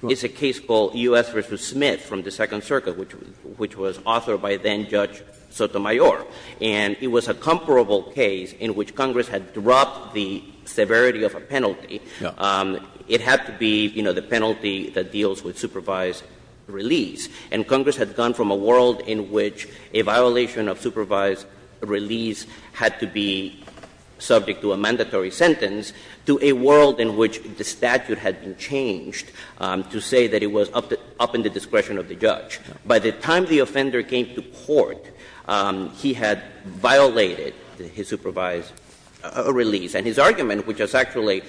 is a case called U.S. v. Smith from the Second Circuit, which was authored by then-Judge Sotomayor. And it was a comparable case in which Congress had dropped the severity of a penalty. It had to be, you know, the penalty that deals with supervised release. And Congress had gone from a world in which a violation of supervised release had to be subject to a mandatory sentence to a world in which the statute had been changed to say that it was up in the discretion of the judge. By the time the offender came to court, he had violated his supervised release. And his argument, which is actually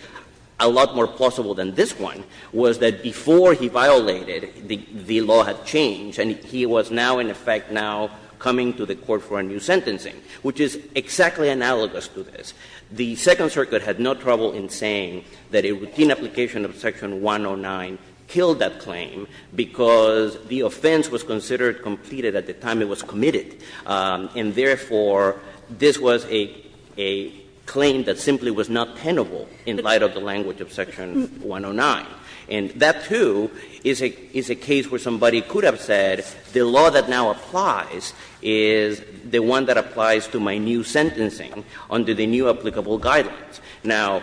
a lot more plausible than this one, was that before he violated, the law had changed and he was now, in effect, now coming to the court for a new sentencing, which is exactly analogous to this. The Second Circuit had no trouble in saying that a routine application of Section 109 killed that claim because the offense was considered completed at the time it was committed. And therefore, this was a claim that simply was not tenable in light of the language of Section 109. And that, too, is a case where somebody could have said the law that now applies is the one that applies to my new sentencing under the new applicable guidelines. Now,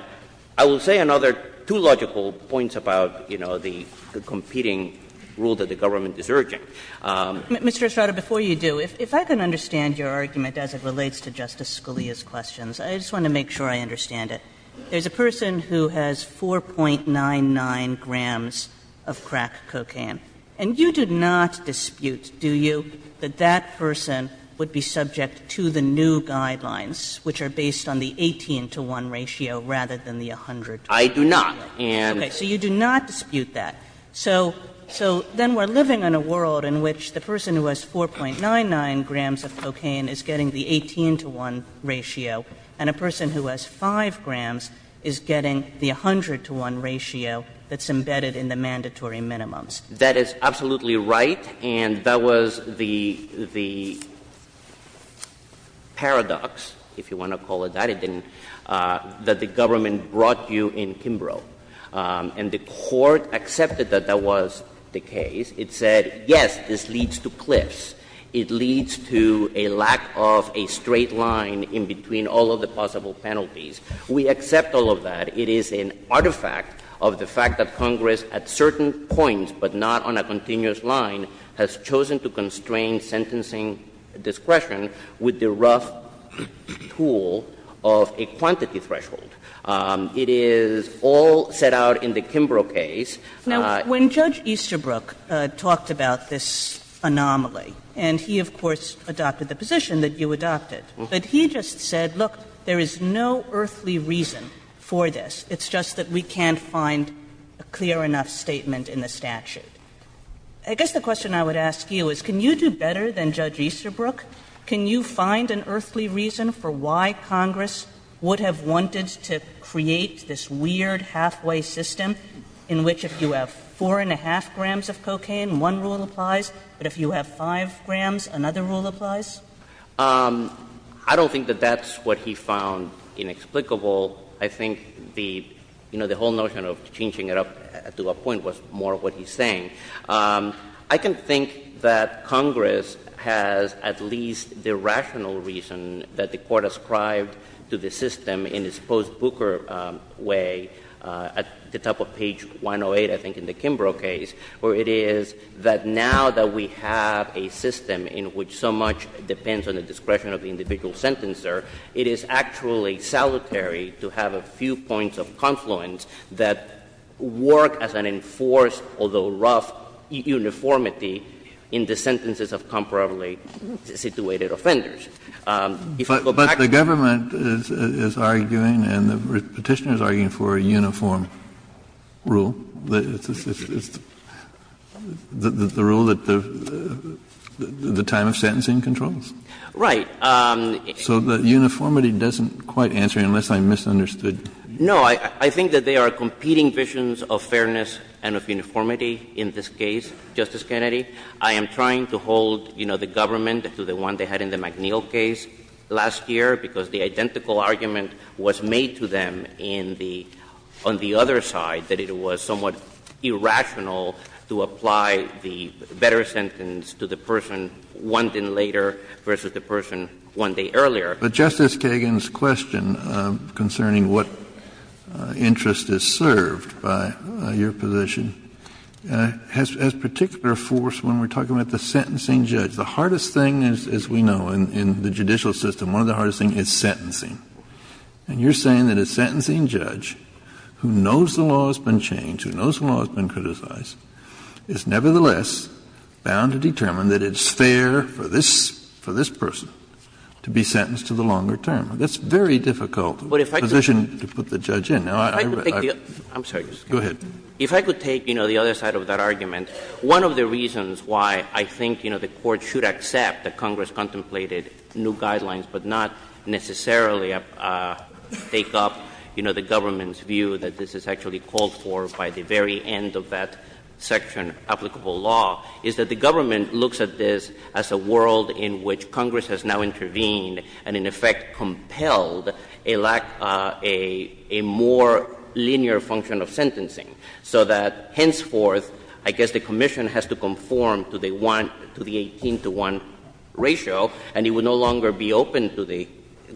I will say another two logical points about, you know, the competing rule that the government is urging. Kagan. Mr. Estrada, before you do, if I can understand your argument as it relates to Justice Scalia's questions, I just want to make sure I understand it. There's a person who has 4.99 grams of crack cocaine. And you do not dispute, do you, that that person would be subject to the new guidelines, which are based on the 18-to-1 ratio rather than the 100-to-1 ratio? I do not. Okay. So you do not dispute that. So then we're living in a world in which the person who has 4.99 grams of cocaine is getting the 18-to-1 ratio, and a person who has 5 grams is getting the 100-to-1 ratio that's embedded in the mandatory minimums. That is absolutely right. And that was the paradox, if you want to call it that, that the government brought you in Kimbrough. And the Court accepted that that was the case. It said, yes, this leads to cliffs. It leads to a lack of a straight line in between all of the possible penalties. We accept all of that. It is an artifact of the fact that Congress at certain points, but not on a continuous line, has chosen to constrain sentencing discretion with the rough tool of a quantity threshold. It is all set out in the Kimbrough case. Now, when Judge Easterbrook talked about this anomaly, and he, of course, adopted the position that you adopted, but he just said, look, there is no earthly reason for this. It's just that we can't find a clear enough statement in the statute. I guess the question I would ask you is, can you do better than Judge Easterbrook? Can you find an earthly reason for why Congress would have wanted to create this weird halfway system in which if you have 4.5 grams of cocaine, one rule applies, but if you have 5 grams, another rule applies? I don't think that that's what he found inexplicable. I think the whole notion of changing it up to a point was more what he's saying. I can think that Congress has at least the rational reason that the Court ascribed to the system in its post-Booker way at the top of page 108, I think, in the Kimbrough case, where it is that now that we have a system in which so much depends on the discretion of the individual sentencer, it is actually salutary to have a few points of confluence that work as an enforced, although rough, uniformity in the sentences of comparably-situated offenders. If I go back to the case of the Court of Appeals, I think that's what he's saying. Kennedy, but the government is arguing and the Petitioner is arguing for a uniform rule, the rule that the time of sentencing controls. Right. So the uniformity doesn't quite answer, unless I misunderstood. No. I think that they are competing visions of fairness and of uniformity in this case, Justice Kennedy. I am trying to hold, you know, the government to the one they had in the McNeil case last year, because the identical argument was made to them in the — on the other side, that it was somewhat irrational to apply the better sentence to the person one day later versus the person one day earlier. But Justice Kagan's question concerning what interest is served by your position has particular force when we are talking about the sentencing judge. The hardest thing, as we know, in the judicial system, one of the hardest things is sentencing. And you are saying that a sentencing judge who knows the law has been changed, who knows the law has been criticized, is nevertheless bound to determine that it's unfair for this person to be sentenced to the longer term. That's a very difficult position to put the judge in. Now, I — I'm sorry, Justice Kennedy. Go ahead. If I could take, you know, the other side of that argument, one of the reasons why I think, you know, the Court should accept that Congress contemplated new guidelines but not necessarily take up, you know, the government's view that this is actually as a world in which Congress has now intervened and, in effect, compelled a lack — a more linear function of sentencing, so that henceforth, I guess the commission has to conform to the one — to the 18 to 1 ratio, and it would no longer be open to the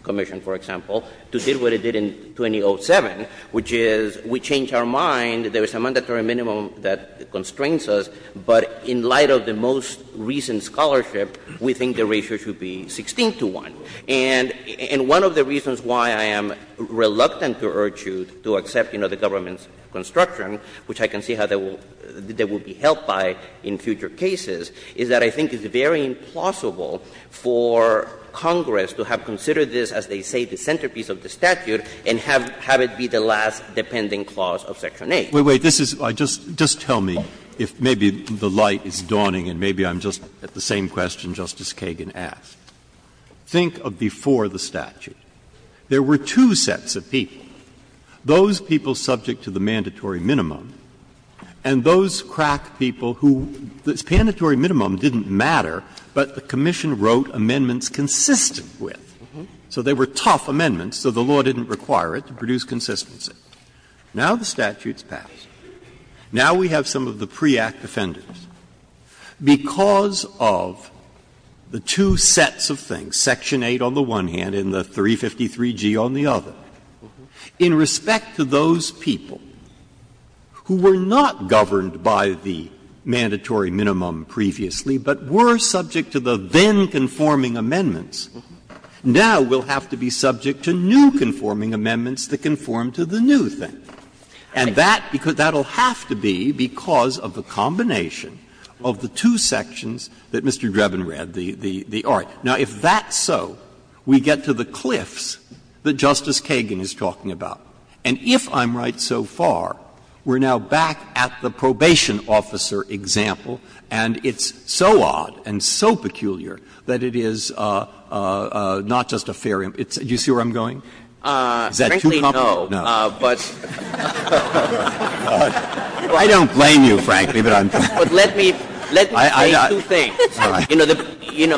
commission, for example, to do what it did in 2007, which is we change our mind, there is a mandatory minimum that constrains us, but in light of the most recent scholarship, we think the ratio should be 16 to 1. And one of the reasons why I am reluctant to urge you to accept, you know, the government's construction, which I can see how they will be helped by in future cases, is that I think it's very implausible for Congress to have considered this, as they say, the centerpiece of the statute and have it be the last dependent clause of Section 8. Breyer. Breyer. Wait, wait, wait. This is — just tell me if maybe the light is dawning, and maybe I'm just at the same question Justice Kagan asked. Think of before the statute. There were two sets of people, those people subject to the mandatory minimum, and those crack people who — the mandatory minimum didn't matter, but the commission wrote amendments consistent with. So they were tough amendments, so the law didn't require it to produce consistency. Now the statute's passed. Now we have some of the pre-Act offenders. Because of the two sets of things, section 8 on the one hand and the 353G on the other, in respect to those people who were not governed by the mandatory minimum previously but were subject to the then-conforming amendments, now we'll have to be subject to new conforming amendments that conform to the new thing. And that will have to be because of the combination of the two sections that Mr. Drebin read, the R. Now, if that's so, we get to the cliffs that Justice Kagan is talking about. And if I'm right so far, we're now back at the probation officer example, and it's so odd and so peculiar that it is not just a fair — do you see where I'm going Is that too complicated? No. No. I don't blame you, frankly, but let me say two things. I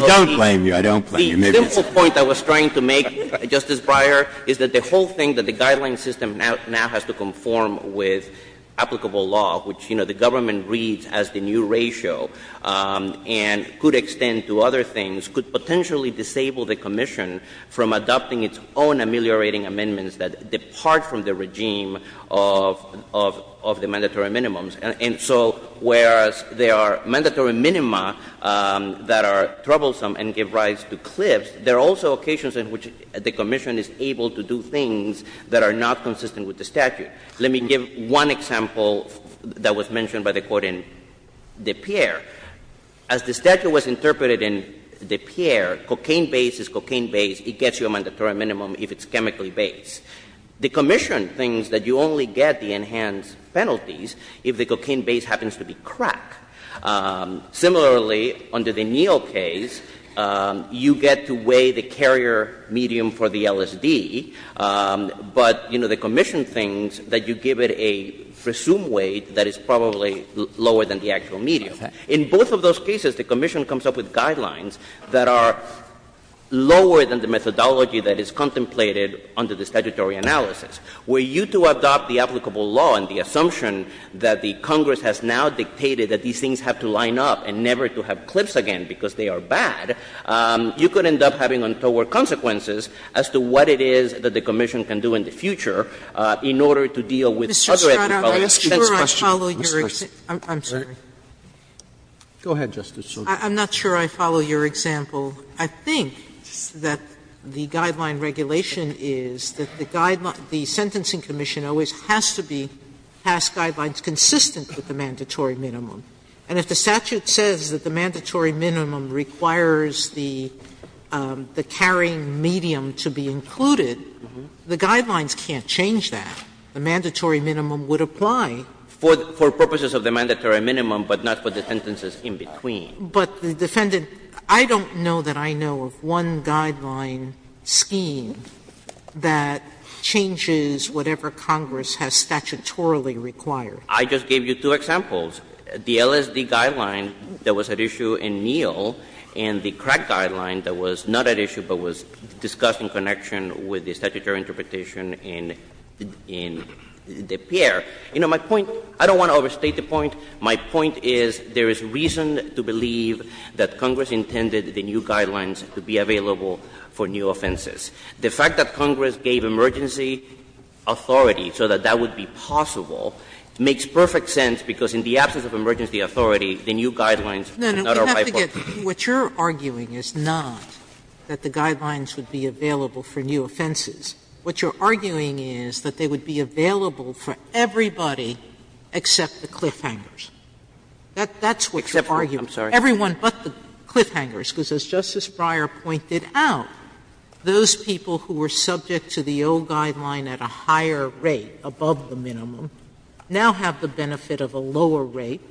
don't blame you. I don't blame you. The simple point I was trying to make, Justice Breyer, is that the whole thing, that the guideline system now has to conform with applicable law, which the government reads as the new ratio and could extend to other things, could potentially disable the Commission from adopting its own ameliorating amendments that depart from the regime of the mandatory minimums. And so whereas there are mandatory minima that are troublesome and give rise to cliffs, there are also occasions in which the Commission is able to do things that are not consistent with the statute. Let me give one example that was mentioned by the Court in De Pierre. As the statute was interpreted in De Pierre, cocaine-based is cocaine-based. It gets you a mandatory minimum if it's chemically based. The Commission thinks that you only get the enhanced penalties if the cocaine-based happens to be crack. Similarly, under the Neal case, you get to weigh the carrier medium for the LSD, but, you know, the Commission thinks that you give it a presumed weight that is probably lower than the actual medium. In both of those cases, the Commission comes up with guidelines that are lower than the methodology that is contemplated under the statutory analysis. Were you to adopt the applicable law and the assumption that the Congress has now dictated that these things have to line up and never to have cliffs again because they are bad, you could end up having untoward consequences as to what it is that the Commission can do in the future in order to deal with other ethnicality. Sotomayor, I'm sure I follow your explanation. I'm sorry. Go ahead, Justice Sotomayor. I'm not sure I follow your example. I think that the guideline regulation is that the sentencing commission always has to be passed guidelines consistent with the mandatory minimum. And if the statute says that the mandatory minimum requires the carrying medium to be included, the guidelines can't change that. The mandatory minimum would apply. For purposes of the mandatory minimum, but not for the sentences in between. But, Defendant, I don't know that I know of one guideline scheme that changes whatever Congress has statutorily required. I just gave you two examples. The LSD guideline that was at issue in Neal and the crack guideline that was not at issue, but was discussed in connection with the statutory interpretation in DePierre. You know, my point, I don't want to overstate the point, my point is there is reason to believe that Congress intended the new guidelines to be available for new offenses. The fact that Congress gave emergency authority so that that would be possible makes perfect sense, because in the absence of emergency authority, the new guidelines cannot apply. Sotomayor, what you're arguing is not that the guidelines would be available for new offenses. What you're arguing is that they would be available for everybody except the cliffhangers. That's what you're arguing. Everyone but the cliffhangers, because as Justice Breyer pointed out, those people who were subject to the old guideline at a higher rate, above the minimum, now have the benefit of a lower rate,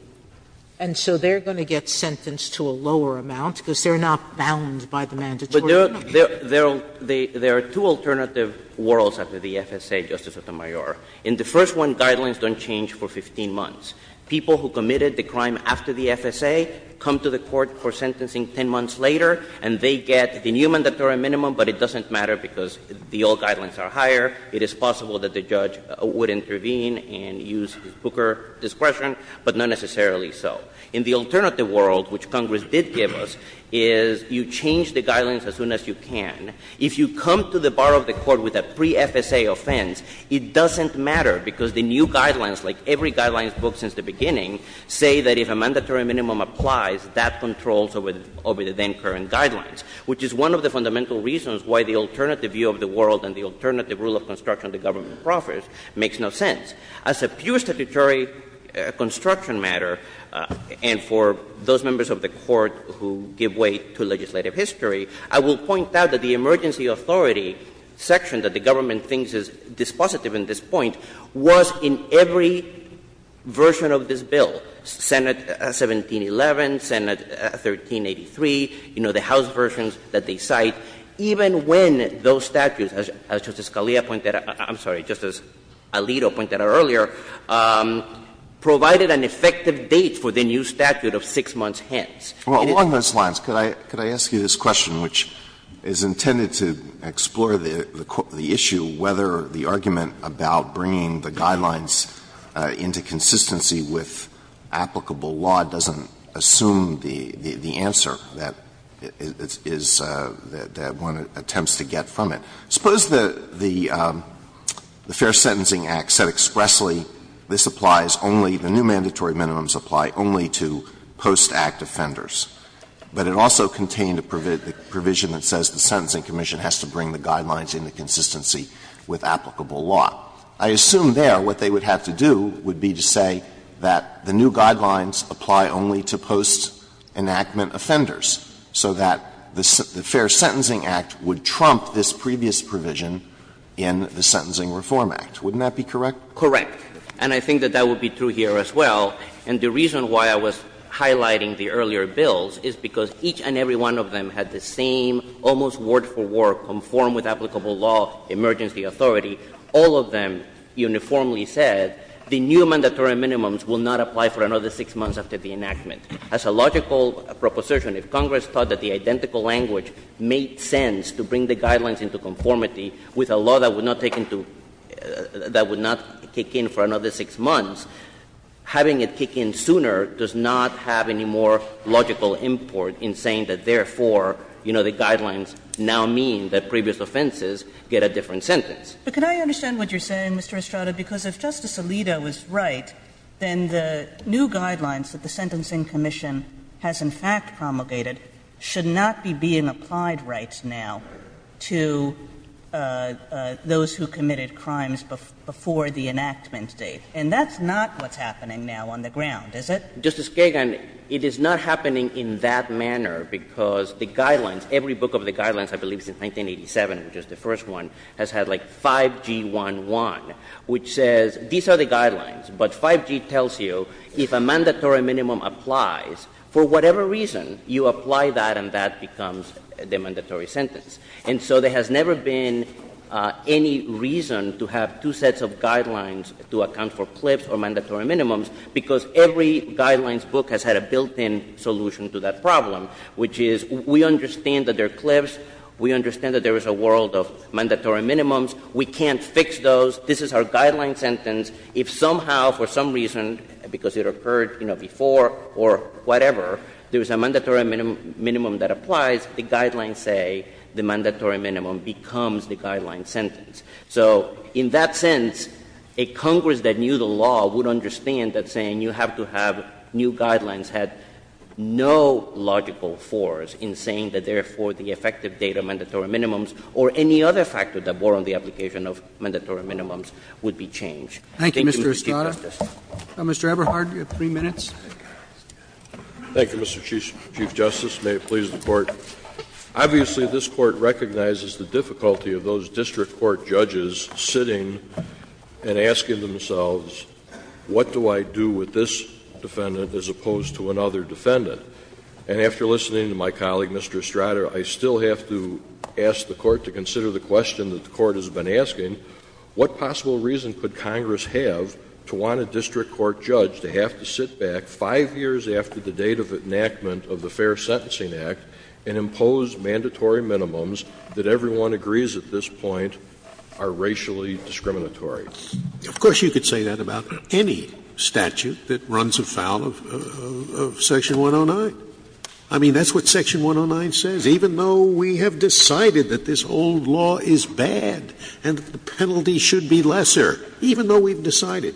and so they're going to get sentenced to a lower amount, because they're not bound by the mandatory minimum. There are two alternative worlds after the FSA, Justice Sotomayor. In the first one, guidelines don't change for 15 months. People who committed the crime after the FSA come to the court for sentencing 10 months later, and they get the new mandatory minimum, but it doesn't matter because the old guidelines are higher. It is possible that the judge would intervene and use his Booker discretion, but not necessarily so. In the alternative world, which Congress did give us, is you change the guidelines as soon as you can. If you come to the bar of the court with a pre-FSA offense, it doesn't matter, because the new guidelines, like every guidelines book since the beginning, say that if a mandatory minimum applies, that controls over the then current guidelines, which is one of the fundamental reasons why the alternative view of the world and the alternative rule of construction of the government profits makes no sense. As a pure statutory construction matter, and for those members of the Court who give way to legislative history, I will point out that the emergency authority section that the government thinks is dispositive in this point was in every version of this bill, Senate 1711, Senate 1383, you know, the House versions that they cite, even when those statutes, as Justice Scalia pointed out — I'm sorry, Justice Alito pointed out earlier — provided an effective date for the new statute of 6 months hence. Alito, along those lines, could I ask you this question, which is intended to explore the issue whether the argument about bringing the guidelines into consistency with applicable law doesn't assume the answer that is — that one attempts to get from it. Suppose the Fair Sentencing Act said expressly this applies only — the new mandatory minimums apply only to post-act offenders, but it also contained a provision that says the Sentencing Commission has to bring the guidelines into consistency with applicable law. I assume there what they would have to do would be to say that the new guidelines apply only to post-enactment offenders so that the Fair Sentencing Act would trump this previous provision in the Sentencing Reform Act. Wouldn't that be correct? And I think that that would be true here as well. And the reason why I was highlighting the earlier bills is because each and every one of them had the same, almost word-for-word, conform with applicable law, emergency authority. All of them uniformly said the new mandatory minimums will not apply for another 6 months after the enactment. As a logical proposition, if Congress thought that the identical language made sense to bring the guidelines into conformity with a law that would not take into — that would not kick in for another 6 months, having it kick in sooner does not have any more logical import in saying that, therefore, you know, the guidelines now mean that previous offenses get a different sentence. But can I understand what you're saying, Mr. Estrada, because if Justice Alito is right, then the new guidelines that the Sentencing Commission has, in fact, promulgated should not be being applied right now to those who committed crimes before the enactment date. And that's not what's happening now on the ground, is it? Estrada, Justice Kagan, it is not happening in that manner, because the guidelines — every book of the guidelines, I believe it's in 1987, which was the first one, has had like 5G11, which says these are the guidelines, but 5G tells you if a mandatory minimum applies, for whatever reason, you apply that and that becomes the mandatory sentence. And so there has never been any reason to have two sets of guidelines to account for CLIFs or mandatory minimums, because every guidelines book has had a built-in solution to that problem, which is we understand that there are CLIFs, we understand that there is a world of mandatory minimums, we can't fix those, this is our guideline sentence, if somehow, for some reason, because it occurred, you know, before or whatever, there is a mandatory minimum that applies, the guidelines say the mandatory minimum becomes the guideline sentence. So in that sense, a Congress that knew the law would understand that saying you have to have new guidelines had no logical force in saying that therefore the effective date of mandatory minimums or any other factor that bore on the application of mandatory minimums would be changed. Thank you, Mr. Estrada. Mr. Eberhard, you have three minutes. Thank you, Mr. Chief Justice. May it please the Court. Obviously, this Court recognizes the difficulty of those district court judges sitting and asking themselves, what do I do with this defendant as opposed to another defendant? And after listening to my colleague, Mr. Estrada, I still have to ask the Court to consider the question that the Court has been asking, what possible reason could Congress have to want a district court judge to have to sit back five years after the date of enactment of the Fair Sentencing Act and impose mandatory minimums that everyone agrees at this point are racially discriminatory? Of course, you could say that about any statute that runs afoul of Section 109. I mean, that's what Section 109 says. Even though we have decided that this old law is bad and the penalty should be lesser, even though we've decided,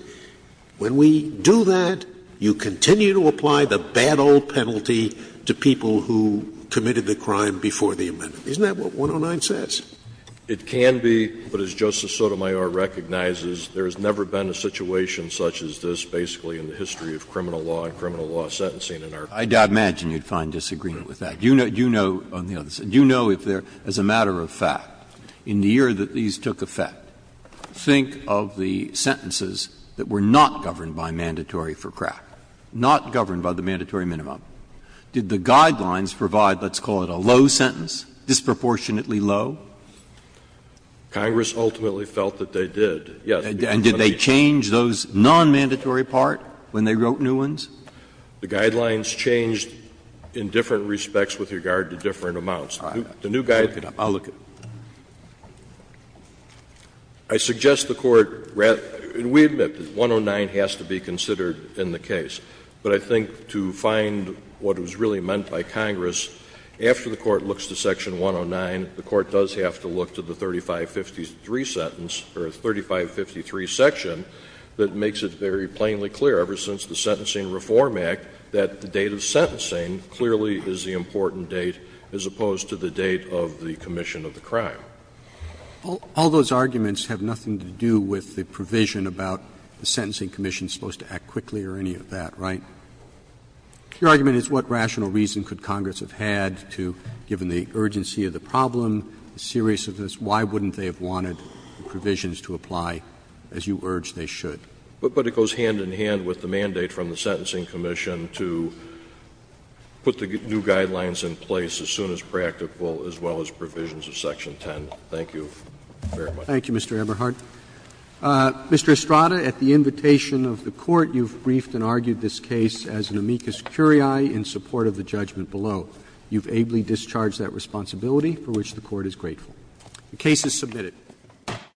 when we do that, you continue to apply the bad old penalty to people who committed the crime before the amendment. Isn't that what 109 says? It can be, but as Justice Sotomayor recognizes, there has never been a situation such as this basically in the history of criminal law and criminal law sentencing in our country. I'd imagine you'd find disagreement with that. You know, on the other side, you know if there, as a matter of fact, in the year that these took effect, think of the sentences that were not governed by mandatory for crack, not governed by the mandatory minimum. Did the Guidelines provide, let's call it a low sentence, disproportionately low? Congress ultimately felt that they did, yes. And did they change those nonmandatory part when they wrote new ones? The Guidelines changed in different respects with regard to different amounts. The new Guidelines. I'll look at it. I suggest the Court, and we admit that 109 has to be considered in the case, but I think to find what was really meant by Congress, after the Court looks to section 109, the Court does have to look to the 3553 sentence, or 3553 section, that makes it very plainly clear, ever since the Sentencing Reform Act, that the date of sentencing clearly is the important date, as opposed to the date of the commission of the crime. All those arguments have nothing to do with the provision about the sentencing commission is supposed to act quickly or any of that, right? Your argument is what rational reason could Congress have had to, given the urgency of the problem, the seriousness of this, why wouldn't they have wanted the provisions to apply as you urge they should? But it goes hand in hand with the mandate from the Sentencing Commission to put the new Guidelines in place as soon as practical, as well as provisions of section 10. Thank you very much. Thank you, Mr. Eberhardt. Mr. Estrada, at the invitation of the Court, you've briefed and argued this case as an amicus curiae in support of the judgment below. You've ably discharged that responsibility, for which the Court is grateful. The case is submitted.